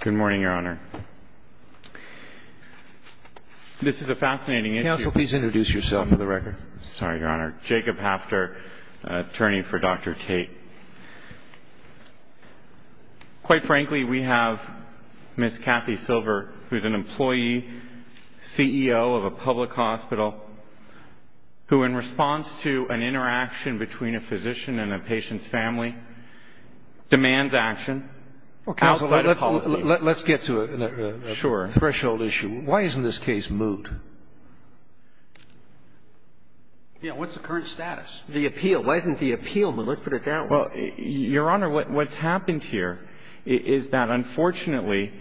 Good morning, Your Honor. This is a fascinating issue. Counsel, please introduce yourself for the record. Sorry, Your Honor. Jacob Hafter, attorney for Dr. Tate. Quite frankly, we have Ms. Kathy Silver, who is an employee, CEO of a public hospital, who in response to an interaction between a physician and a patient's family, demands action outside of policy. Let's get to a threshold issue. Why isn't this case moved? Yeah, what's the current status? The appeal. Why isn't the appeal moved? Let's put it that way. Well, Your Honor, what's happened here is that unfortunately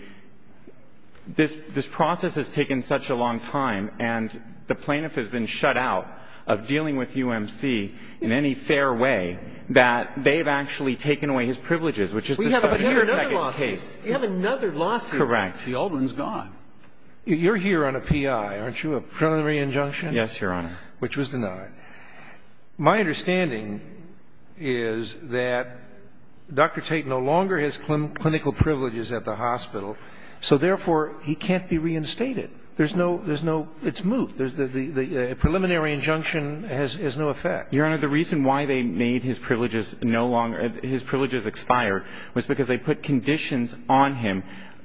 this process has taken such a long time and the plaintiff has been shut out of dealing with UMC in any fair way that they've actually taken away his privileges, which is the subject of the second case. We have another lawsuit. Correct. The old one's gone. You're here on a P.I., aren't you, a preliminary injunction? Yes, Your Honor. Which was denied. My understanding is that Dr. Tate no longer has clinical privileges at the hospital, so therefore he can't be reinstated. There's no – it's moved. The preliminary injunction has no effect. Your Honor, the reason why they made his privileges no longer – his privileges expire was because they put conditions on him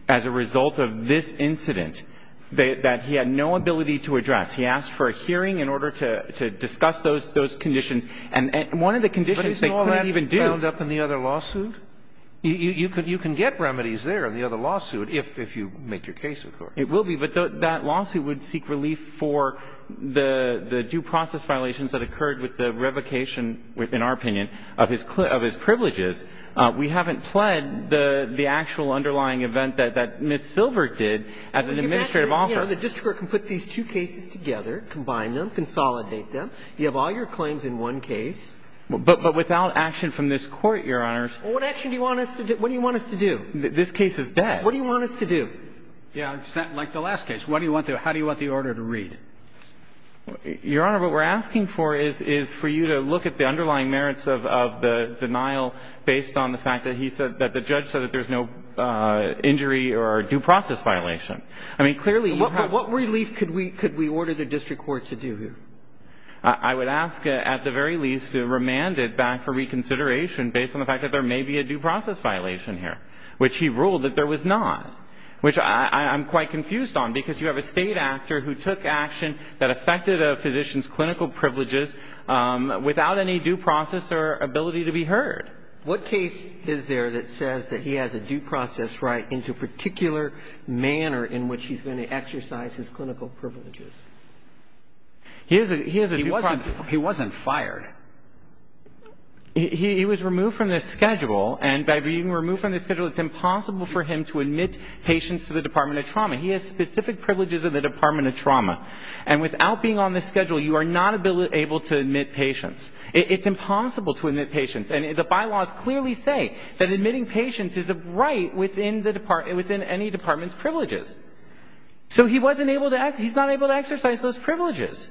as a result of this incident that he had no ability to address. He asked for a hearing in order to discuss those conditions. And one of the conditions they couldn't even do – But isn't all that bound up in the other lawsuit? You can get remedies there in the other lawsuit if you make your case, of course. It will be, but that lawsuit would seek relief for the due process violations that occurred with the revocation, in our opinion, of his privileges. We haven't pled the actual underlying event that Ms. Silver did as an administrative offer. The district court can put these two cases together, combine them, consolidate them. You have all your claims in one case. But without action from this Court, Your Honors – What action do you want us to do? What do you want us to do? This case is dead. What do you want us to do? Yeah, like the last case. What do you want to – how do you want the order to read? Your Honor, what we're asking for is for you to look at the underlying merits of the denial based on the fact that he said – that the judge said that there's no injury or due process violation. I mean, clearly, you have – But what relief could we order the district court to do here? I would ask, at the very least, to remand it back for reconsideration based on the fact that there may be a due process violation here, which he ruled that there was not, which I'm quite confused on, because you have a State actor who took action that affected a physician's clinical privileges without any due process or ability to be heard. What case is there that says that he has a due process right into a particular manner in which he's going to exercise his clinical privileges? He has a due process – He wasn't fired. He was removed from the schedule, and by being removed from the schedule, it's impossible for him to admit patients to the Department of Trauma. He has specific privileges of the Department of Trauma. And without being on the schedule, you are not able to admit patients. It's impossible to admit patients. And the bylaws clearly say that admitting patients is a right within any department's privileges. So he wasn't able to – he's not able to exercise those privileges.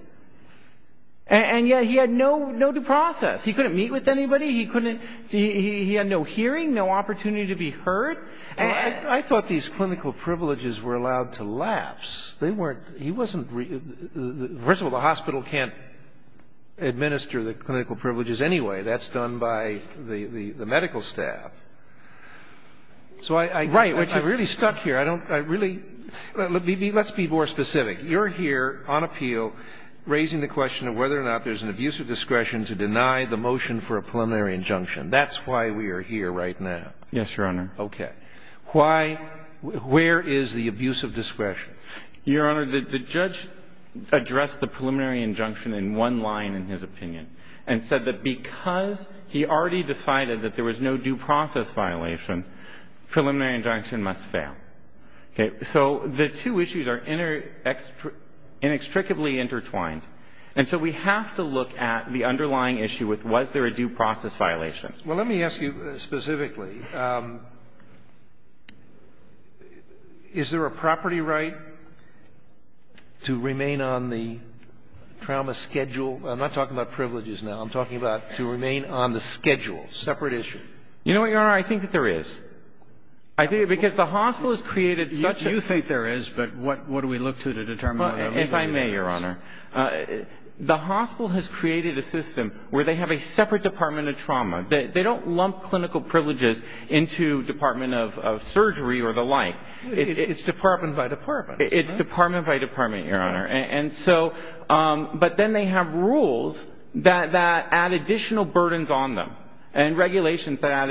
And yet he had no due process. He couldn't meet with anybody. He couldn't – he had no hearing, no opportunity to be heard. I thought these clinical privileges were allowed to lapse. They weren't – he wasn't – first of all, the hospital can't administer the clinical privileges anyway. That's done by the medical staff. So I – Right. I'm really stuck here. I don't – I really – let's be more specific. You're here on appeal raising the question of whether or not there's an abuse of discretion to deny the motion for a preliminary injunction. That's why we are here right now. Yes, Your Honor. Okay. Why – where is the abuse of discretion? Your Honor, the judge addressed the preliminary injunction in one line in his opinion and said that because he already decided that there was no due process violation, preliminary injunction must fail. Okay. So the two issues are inextricably intertwined. And so we have to look at the underlying issue with was there a due process violation. Well, let me ask you specifically, is there a property right to remain on the trauma schedule? I'm not talking about privileges now. I'm talking about to remain on the schedule, separate issue. You know what, Your Honor? I think that there is. Because the hospital has created such a – You think there is, but what do we look to to determine whether or not there is? If I may, Your Honor, the hospital has created a system where they have a separate department of trauma. They don't lump clinical privileges into department of surgery or the like. It's department by department. It's department by department, Your Honor. And so – but then they have rules that add additional burdens on them and regulations that add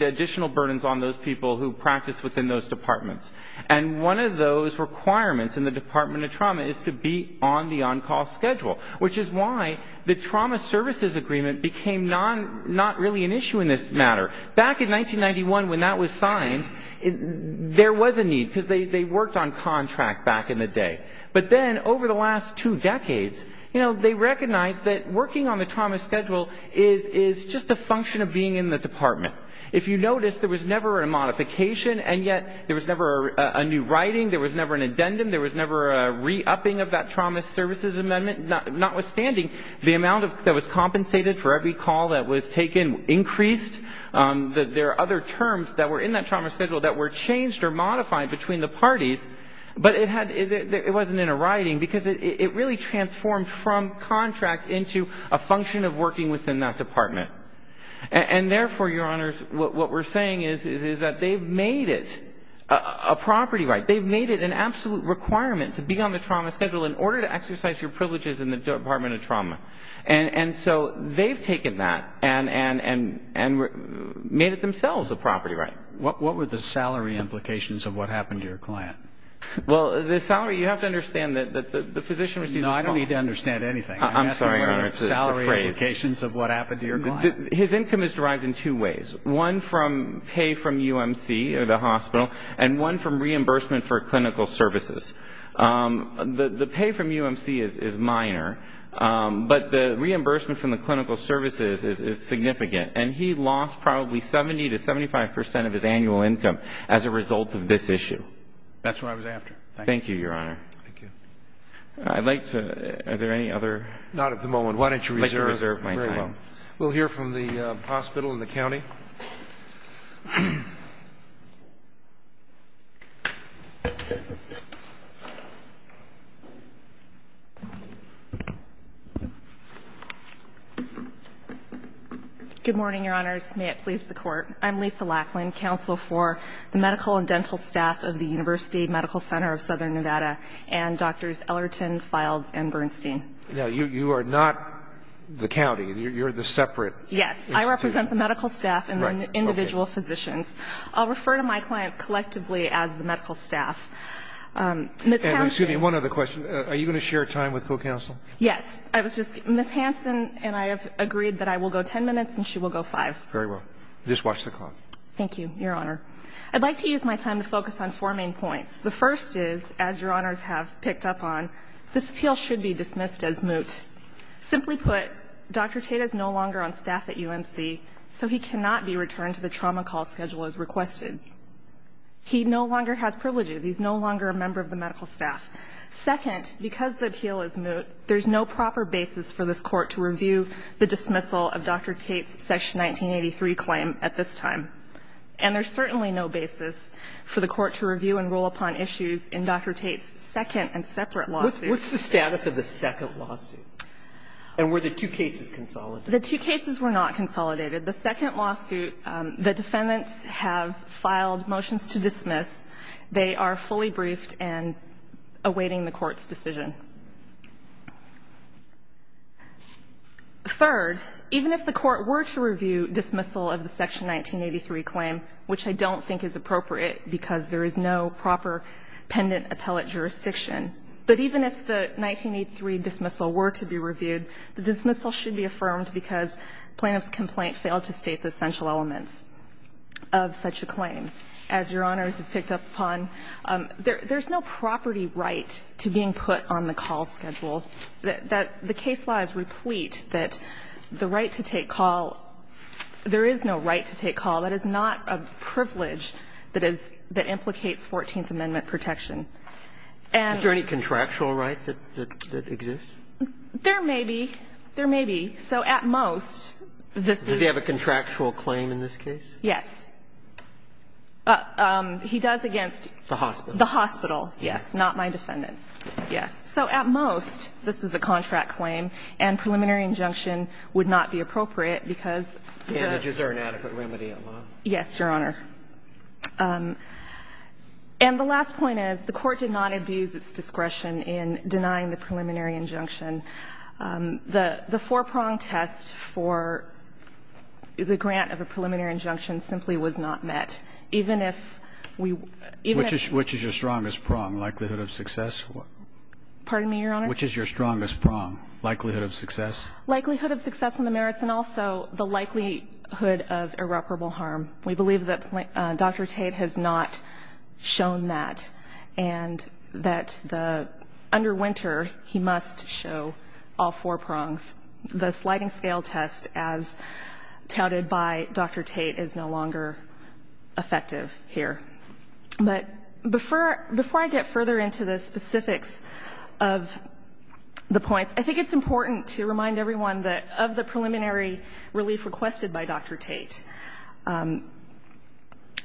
additional burdens on those people who practice within those departments. And one of those requirements in the department of trauma is to be on the on-call schedule, which is why the trauma services agreement became not really an issue in this matter. Back in 1991 when that was signed, there was a need because they worked on contract back in the day. But then over the last two decades, you know, they recognized that working on the trauma schedule is just a function of being in the department. If you notice, there was never a modification, and yet there was never a new writing, there was never an addendum, there was never a re-upping of that trauma services amendment, notwithstanding the amount that was compensated for every call that was taken increased. There are other terms that were in that trauma schedule that were changed or modified between the parties, but it wasn't in a writing because it really transformed from contract into a function of working within that department. And therefore, Your Honors, what we're saying is that they've made it a property right. They've made it an absolute requirement to be on the trauma schedule in order to exercise your privileges in the department of trauma. And so they've taken that and made it themselves a property right. Your Honor, what were the salary implications of what happened to your client? Well, the salary, you have to understand that the physician received a small No, I don't need to understand anything. I'm sorry, Your Honor, it's a phrase. I'm asking about salary implications of what happened to your client. His income is derived in two ways, one from pay from UMC, the hospital, and one from reimbursement for clinical services. The pay from UMC is minor, but the reimbursement from the clinical services is significant, and he lost probably 70% to 75% of his annual income as a result of this issue. That's what I was after. Thank you, Your Honor. Thank you. I'd like to, are there any other? Why don't you reserve? I'd like to reserve my time. Very well. We'll hear from the hospital and the county. Good morning, Your Honors. May it please the Court. I'm Lisa Lackland, Counsel for the Medical and Dental Staff of the University Medical Center of Southern Nevada and Doctors Ellerton, Files, and Bernstein. Now, you are not the county. You're the separate institute. Yes. I represent the medical staff and the individual physicians. I'll refer to my clients collectively as the medical staff. Ms. Hansen. And excuse me, one other question. Are you going to share time with co-counsel? Yes. I was just, Ms. Hansen and I have agreed that I will go 10 minutes and she will go five. Very well. Just watch the clock. Thank you, Your Honor. I'd like to use my time to focus on four main points. The first is, as Your Honors have picked up on, this appeal should be dismissed as moot. Simply put, Dr. Tate is no longer on staff at UMC, so he cannot be returned to the trauma call schedule as requested. He no longer has privileges. He's no longer a member of the medical staff. Second, because the appeal is moot, there's no proper basis for this Court to review the dismissal of Dr. Tate's Section 1983 claim at this time. And there's certainly no basis for the Court to review and rule upon issues in Dr. Tate's second and separate lawsuits. What's the status of the second lawsuit? And were the two cases consolidated? The two cases were not consolidated. The second lawsuit, the defendants have filed motions to dismiss. They are fully briefed and awaiting the Court's decision. Third, even if the Court were to review dismissal of the Section 1983 claim, which I don't think is appropriate because there is no proper pendant appellate jurisdiction, but even if the 1983 dismissal were to be reviewed, the dismissal should be affirmed because plaintiff's complaint failed to state the essential elements of such a claim. As Your Honors have picked up upon, there's no property right to being put on the call schedule. The case laws replete that the right to take call, there is no right to take call. That is not a privilege that is — that implicates Fourteenth Amendment protection. And — Is there any contractual right that exists? There may be. There may be. So at most, this is — Does he have a contractual claim in this case? Yes. He does against the hospital, yes, not my defendants. Yes. So at most, this is a contract claim, and preliminary injunction would not be appropriate because the — And is there an adequate remedy at law? Yes, Your Honor. And the last point is the Court did not abuse its discretion in denying the preliminary injunction. The four-prong test for the grant of a preliminary injunction simply was not met. Even if we — Which is your strongest prong, likelihood of success? Pardon me, Your Honor? Which is your strongest prong, likelihood of success? Likelihood of success on the merits and also the likelihood of irreparable harm. We believe that Dr. Tate has not shown that, and that the — under Winter, he must show all four prongs. The sliding scale test, as touted by Dr. Tate, is no longer effective here. But before I get further into the specifics of the points, I think it's important to remind everyone that of the preliminary relief requested by Dr. Tate,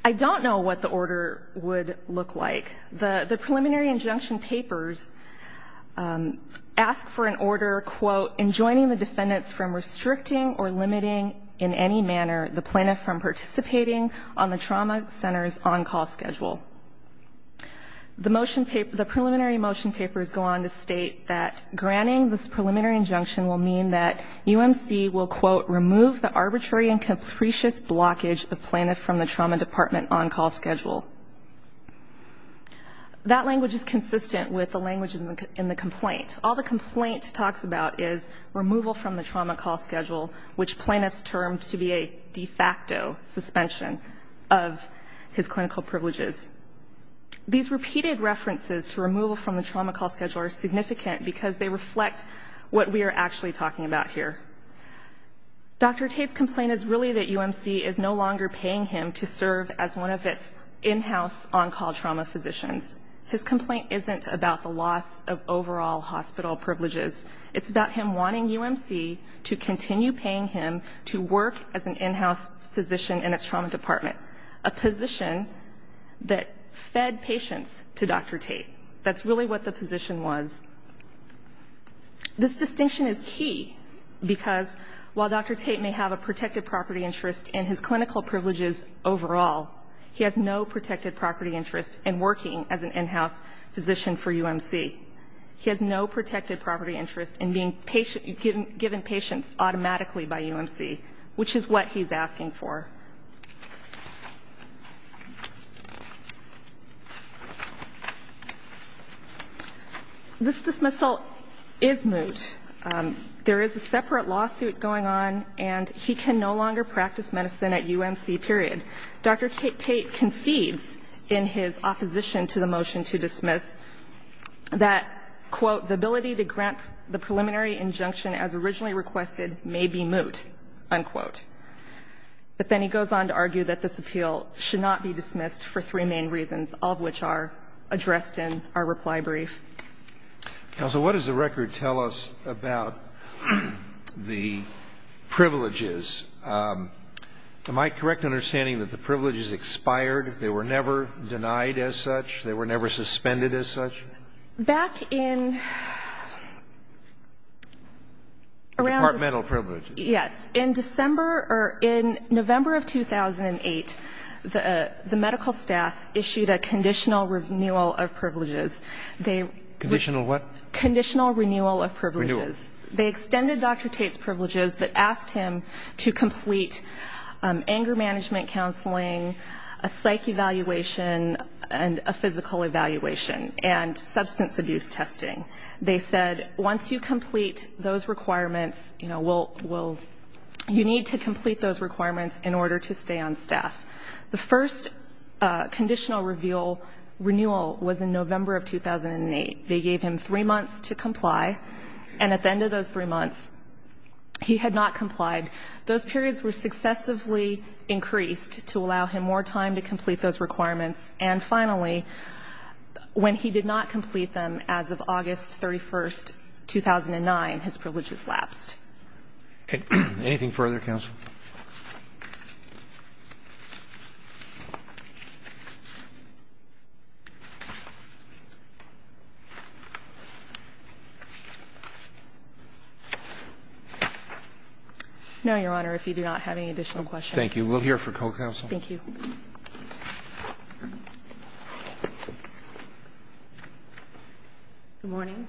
I don't know what the order would look like. The preliminary injunction papers ask for an order, quote, in joining the defendants from restricting or limiting in any manner the plaintiff from participating on the trauma center's on-call schedule. The preliminary motion papers go on to state that granting this preliminary injunction will mean that UMC will, quote, remove the arbitrary and capricious blockage of plaintiff from the trauma department on-call schedule. That language is consistent with the language in the complaint. All the complaint talks about is removal from the trauma call schedule, which plaintiffs termed to be a de facto suspension of his clinical privileges. These repeated references to removal from the trauma call schedule are significant because they reflect what we are actually talking about here. Dr. Tate's complaint is really that UMC is no longer paying him to serve as one of its in-house on-call trauma physicians. His complaint isn't about the loss of overall hospital privileges. It's about him wanting UMC to continue paying him to work as an in-house physician in its trauma department, a position that fed patients to Dr. Tate. That's really what the position was. This distinction is key because while Dr. Tate may have a protective property interest in his clinical privileges overall, he has no protected property interest in working as an in-house physician for UMC. He has no protected property interest in being patient, given patients automatically by UMC, which is what he's asking for. This dismissal is moot. There is a separate lawsuit going on, and he can no longer practice medicine at UMC, period. Dr. Tate concedes in his opposition to the motion to dismiss that, quote, the ability to grant the preliminary injunction as originally requested may be moot, unquote. But then he goes on to argue that this appeal should not be dismissed for three main reasons, all of which are addressed in our reply brief. Counsel, what does the record tell us about the privileges? Am I correct in understanding that the privileges expired? They were never denied as such? They were never suspended as such? Back in around this — Departmental privileges. Yes. In December or in November of 2008, the medical staff issued a conditional renewal of privileges. Conditional what? Conditional renewal of privileges. They extended Dr. Tate's privileges, but asked him to complete anger management counseling, a psych evaluation, and a physical evaluation, and substance abuse testing. They said, once you complete those requirements, you need to complete those requirements in order to stay on staff. The first conditional renewal was in November of 2008. They gave him three months to comply, and at the end of those three months, he had not complied. Those periods were successively increased to allow him more time to complete those requirements. And finally, when he did not complete them as of August 31, 2009, his privileges lapsed. Anything further, counsel? No, Your Honor. If you do not have any additional questions. Thank you. We'll hear from co-counsel. Thank you. Good morning. Good morning.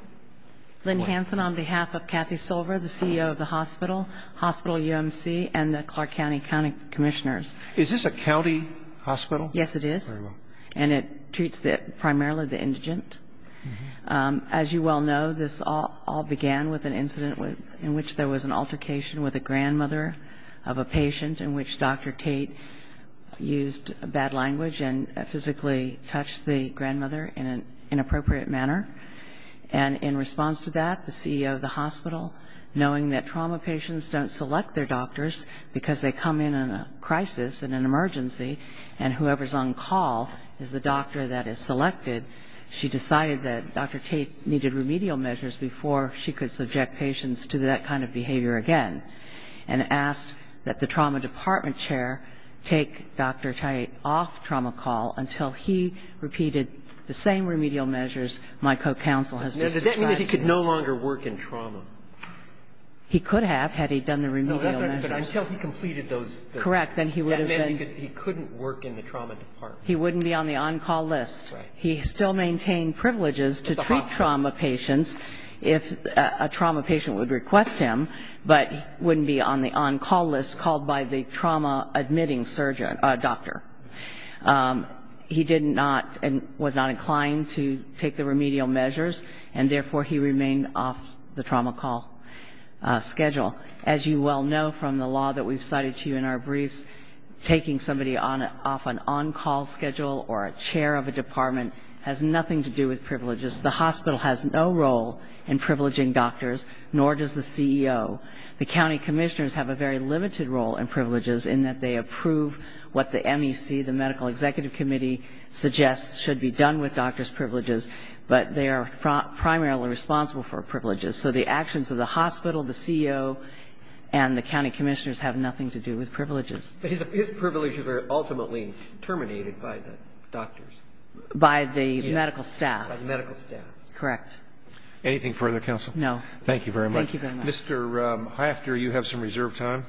Lynn Hansen on behalf of Kathy Silver, the CEO of the hospital, Hospital UMC, and the Chief Medical Officer. I'm the Chief Medical Officer of the hospital, and I'm the Clark County County Commissioners. Is this a county hospital? Yes, it is. And it treats primarily the indigent. As you well know, this all began with an incident in which there was an altercation with a grandmother of a patient in which Dr. Tate used bad language and physically touched the grandmother in an inappropriate manner. And in response to that, the CEO of the hospital, knowing that trauma patients don't select their doctors because they come in in a crisis, in an emergency, and whoever's on call is the doctor that is selected, she decided that Dr. Tate needed remedial measures before she could subject patients to that kind of behavior again. And asked that the trauma department chair take Dr. Tate off trauma call until he repeated the same remedial measures my co-counsel has just described. Now, does that mean that he could no longer work in trauma? He could have, had he done the remedial measures. No, that's not good. Until he completed those. Correct, then he would have been. That meant he couldn't work in the trauma department. He wouldn't be on the on-call list. Right. He still maintained privileges to treat trauma patients if a trauma patient would request him, but wouldn't be on the on-call list called by the trauma admitting surgeon or doctor. He did not, and was not inclined to take the remedial measures, and therefore he remained off the trauma call schedule. As you well know from the law that we've cited to you in our briefs, taking somebody off an on-call schedule or a chair of a department has nothing to do with privileges. The hospital has no role in privileging doctors, nor does the CEO. The county commissioners have a very limited role in privileges in that they approve what the MEC, the Medical Executive Committee, suggests should be done with doctors' privileges, but they are primarily responsible for privileges. So the actions of the hospital, the CEO, and the county commissioners have nothing to do with privileges. But his privileges are ultimately terminated by the doctors. By the medical staff. By the medical staff. Correct. Anything further, counsel? No. Thank you very much. Thank you very much. Mr. Hefter, you have some reserved time.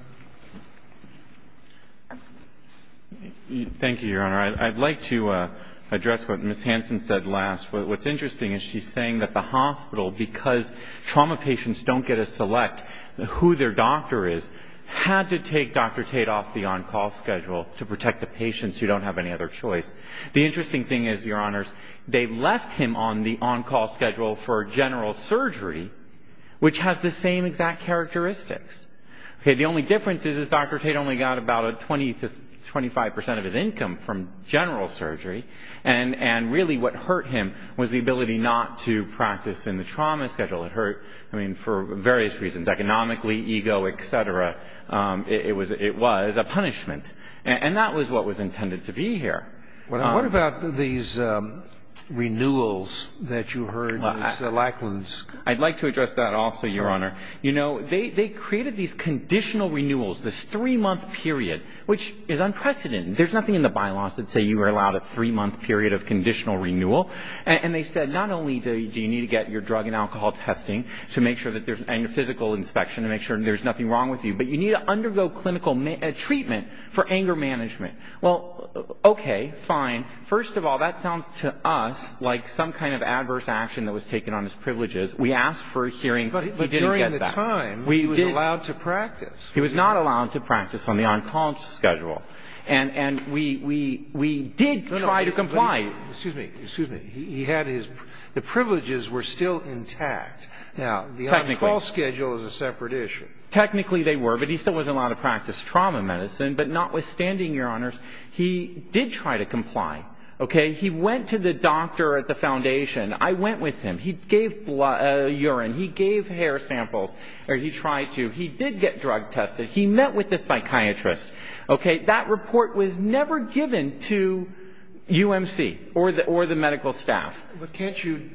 Thank you, Your Honor. I'd like to address what Ms. Hansen said last. What's interesting is she's saying that the hospital, because trauma patients don't get a select who their doctor is, had to take Dr. Tate off the on-call schedule to protect the patients who don't have any other choice. The interesting thing is, Your Honors, they left him on the on-call schedule for general surgery, which has the same exact characteristics. The only difference is Dr. Tate only got about a 20 to 25 percent of his income from general surgery. And really what hurt him was the ability not to practice in the trauma schedule. It hurt, I mean, for various reasons, economically, ego, et cetera. It was a punishment. And that was what was intended to be here. What about these renewals that you heard Ms. Lackland's... I'd like to address that also, Your Honor. You know, they created these conditional renewals, this three-month period, which is unprecedented. There's nothing in the bylaws that say you are allowed a three-month period of conditional renewal. And they said, not only do you need to get your drug and alcohol testing, and your physical inspection to make sure there's nothing wrong with you, but you need to undergo clinical treatment for anger management. Well, okay, fine. First of all, that sounds to us like some kind of adverse action that was taken on his privileges. We asked for a hearing, but he didn't get that. But during the time, he was allowed to practice. He was not allowed to practice on the on-call schedule. And we did try to comply. Excuse me, excuse me. The privileges were still intact. Technically. Now, the on-call schedule is a separate issue. Technically they were, but he still wasn't allowed to practice trauma medicine. But notwithstanding, Your Honors, he did try to comply. Okay? He went to the doctor at the foundation. I went with him. He gave urine. He gave hair samples. Or he tried to. He did get drug tested. He met with the psychiatrist. Okay? That report was never given to UMC or the medical staff. But can't you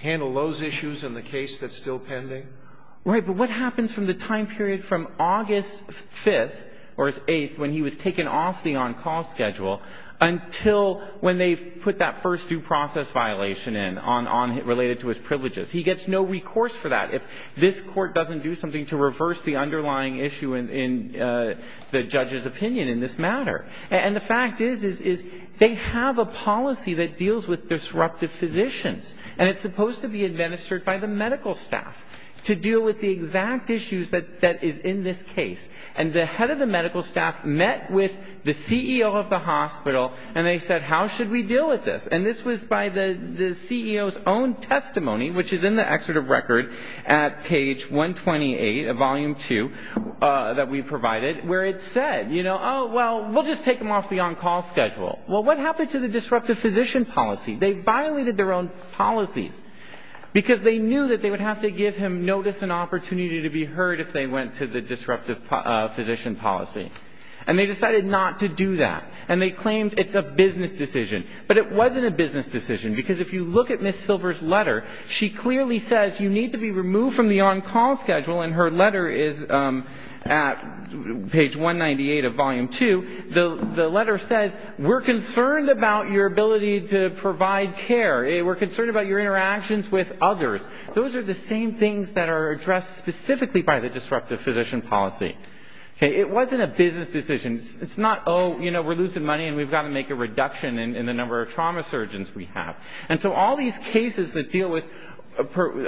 handle those issues in the case that's still pending? Right. But what happens from the time period from August 5th or 8th, when he was taken off the on-call schedule, until when they put that first due process violation in, related to his privileges, he gets no recourse for that. If this court doesn't do something to reverse the underlying issue in the judge's opinion in this matter. And the fact is, they have a policy that deals with disruptive physicians. And it's supposed to be administered by the medical staff to deal with the exact issues that is in this case. and said, you know, you know, you know, you know, they brought him in the hospital and they said, how should we deal with this? And this was by the CEO's own testimony, which is in the excerpt of record, at page 128 of volume 2, that we provided, where it said, you know, oh well, we'll just take him off the on-call schedule. Well, what happened to the disruptive physician policy? They violated their own policies because they knew that they would have to give him notice and opportunity to be heard if they went to the disruptive physician policy. And they decided not to do that. And they claimed it's a business decision. But it wasn't a business decision, because if you look at Ms. Silver's letter, she clearly says you need to be removed from the on-call schedule, and her letter is at page 198 of volume 2, the letter says, we're concerned about your ability to provide care, we're concerned about your interactions with others. Those are the same things that are addressed specifically by the disruptive physician policy. It wasn't a business decision. It's not, oh, you know, we're losing money and we've got to make a reduction in the number of trauma surgeons we have. And so all these cases that deal with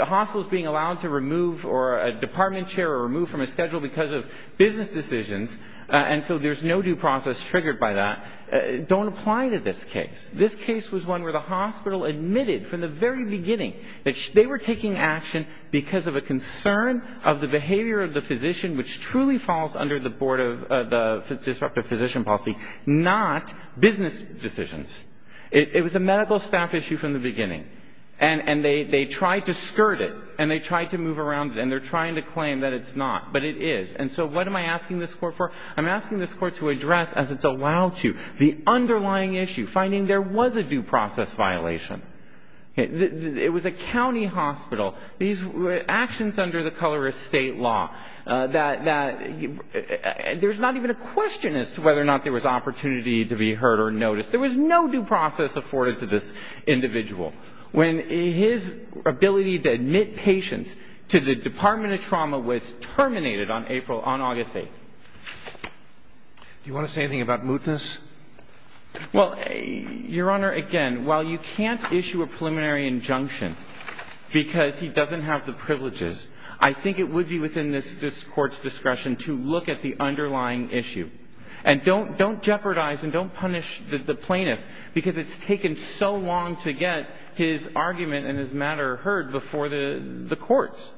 hospitals being allowed to remove or a department chair removed from a schedule because of business decisions, and so there's no due process triggered by that, don't apply to this case. This case was one where the hospital admitted from the very beginning that they were taking action because of a concern of the behavior of the physician, which truly falls under the board of the disruptive physician policy, not business decisions. It was a medical staff issue from the beginning. And they tried to skirt it, and they tried to move around it, and they're trying to claim that it's not, but it is. And so what am I asking this court for? I'm asking this court to address, as it's allowed to, the underlying issue, finding there was a due process violation. It was a county hospital. These were actions under the colorist state law that there's not even a question as to whether or not there was opportunity to be heard or noticed. There was no due process afforded to this individual. When his ability to admit patients to the Department of Trauma was terminated on April, on August 8th. Do you want to say anything about mootness? Well, Your Honor, again, while you can't issue a preliminary injunction because he doesn't have the privileges, I think it would be within this court's discretion to look at the underlying issue. And don't jeopardize and don't punish the plaintiff because it's taken so long to get his argument and his matter heard before the courts.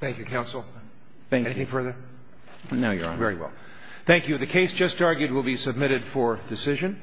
Thank you, Counsel. Anything further? No, Your Honor. Thank you. The case just argued will be submitted for decision.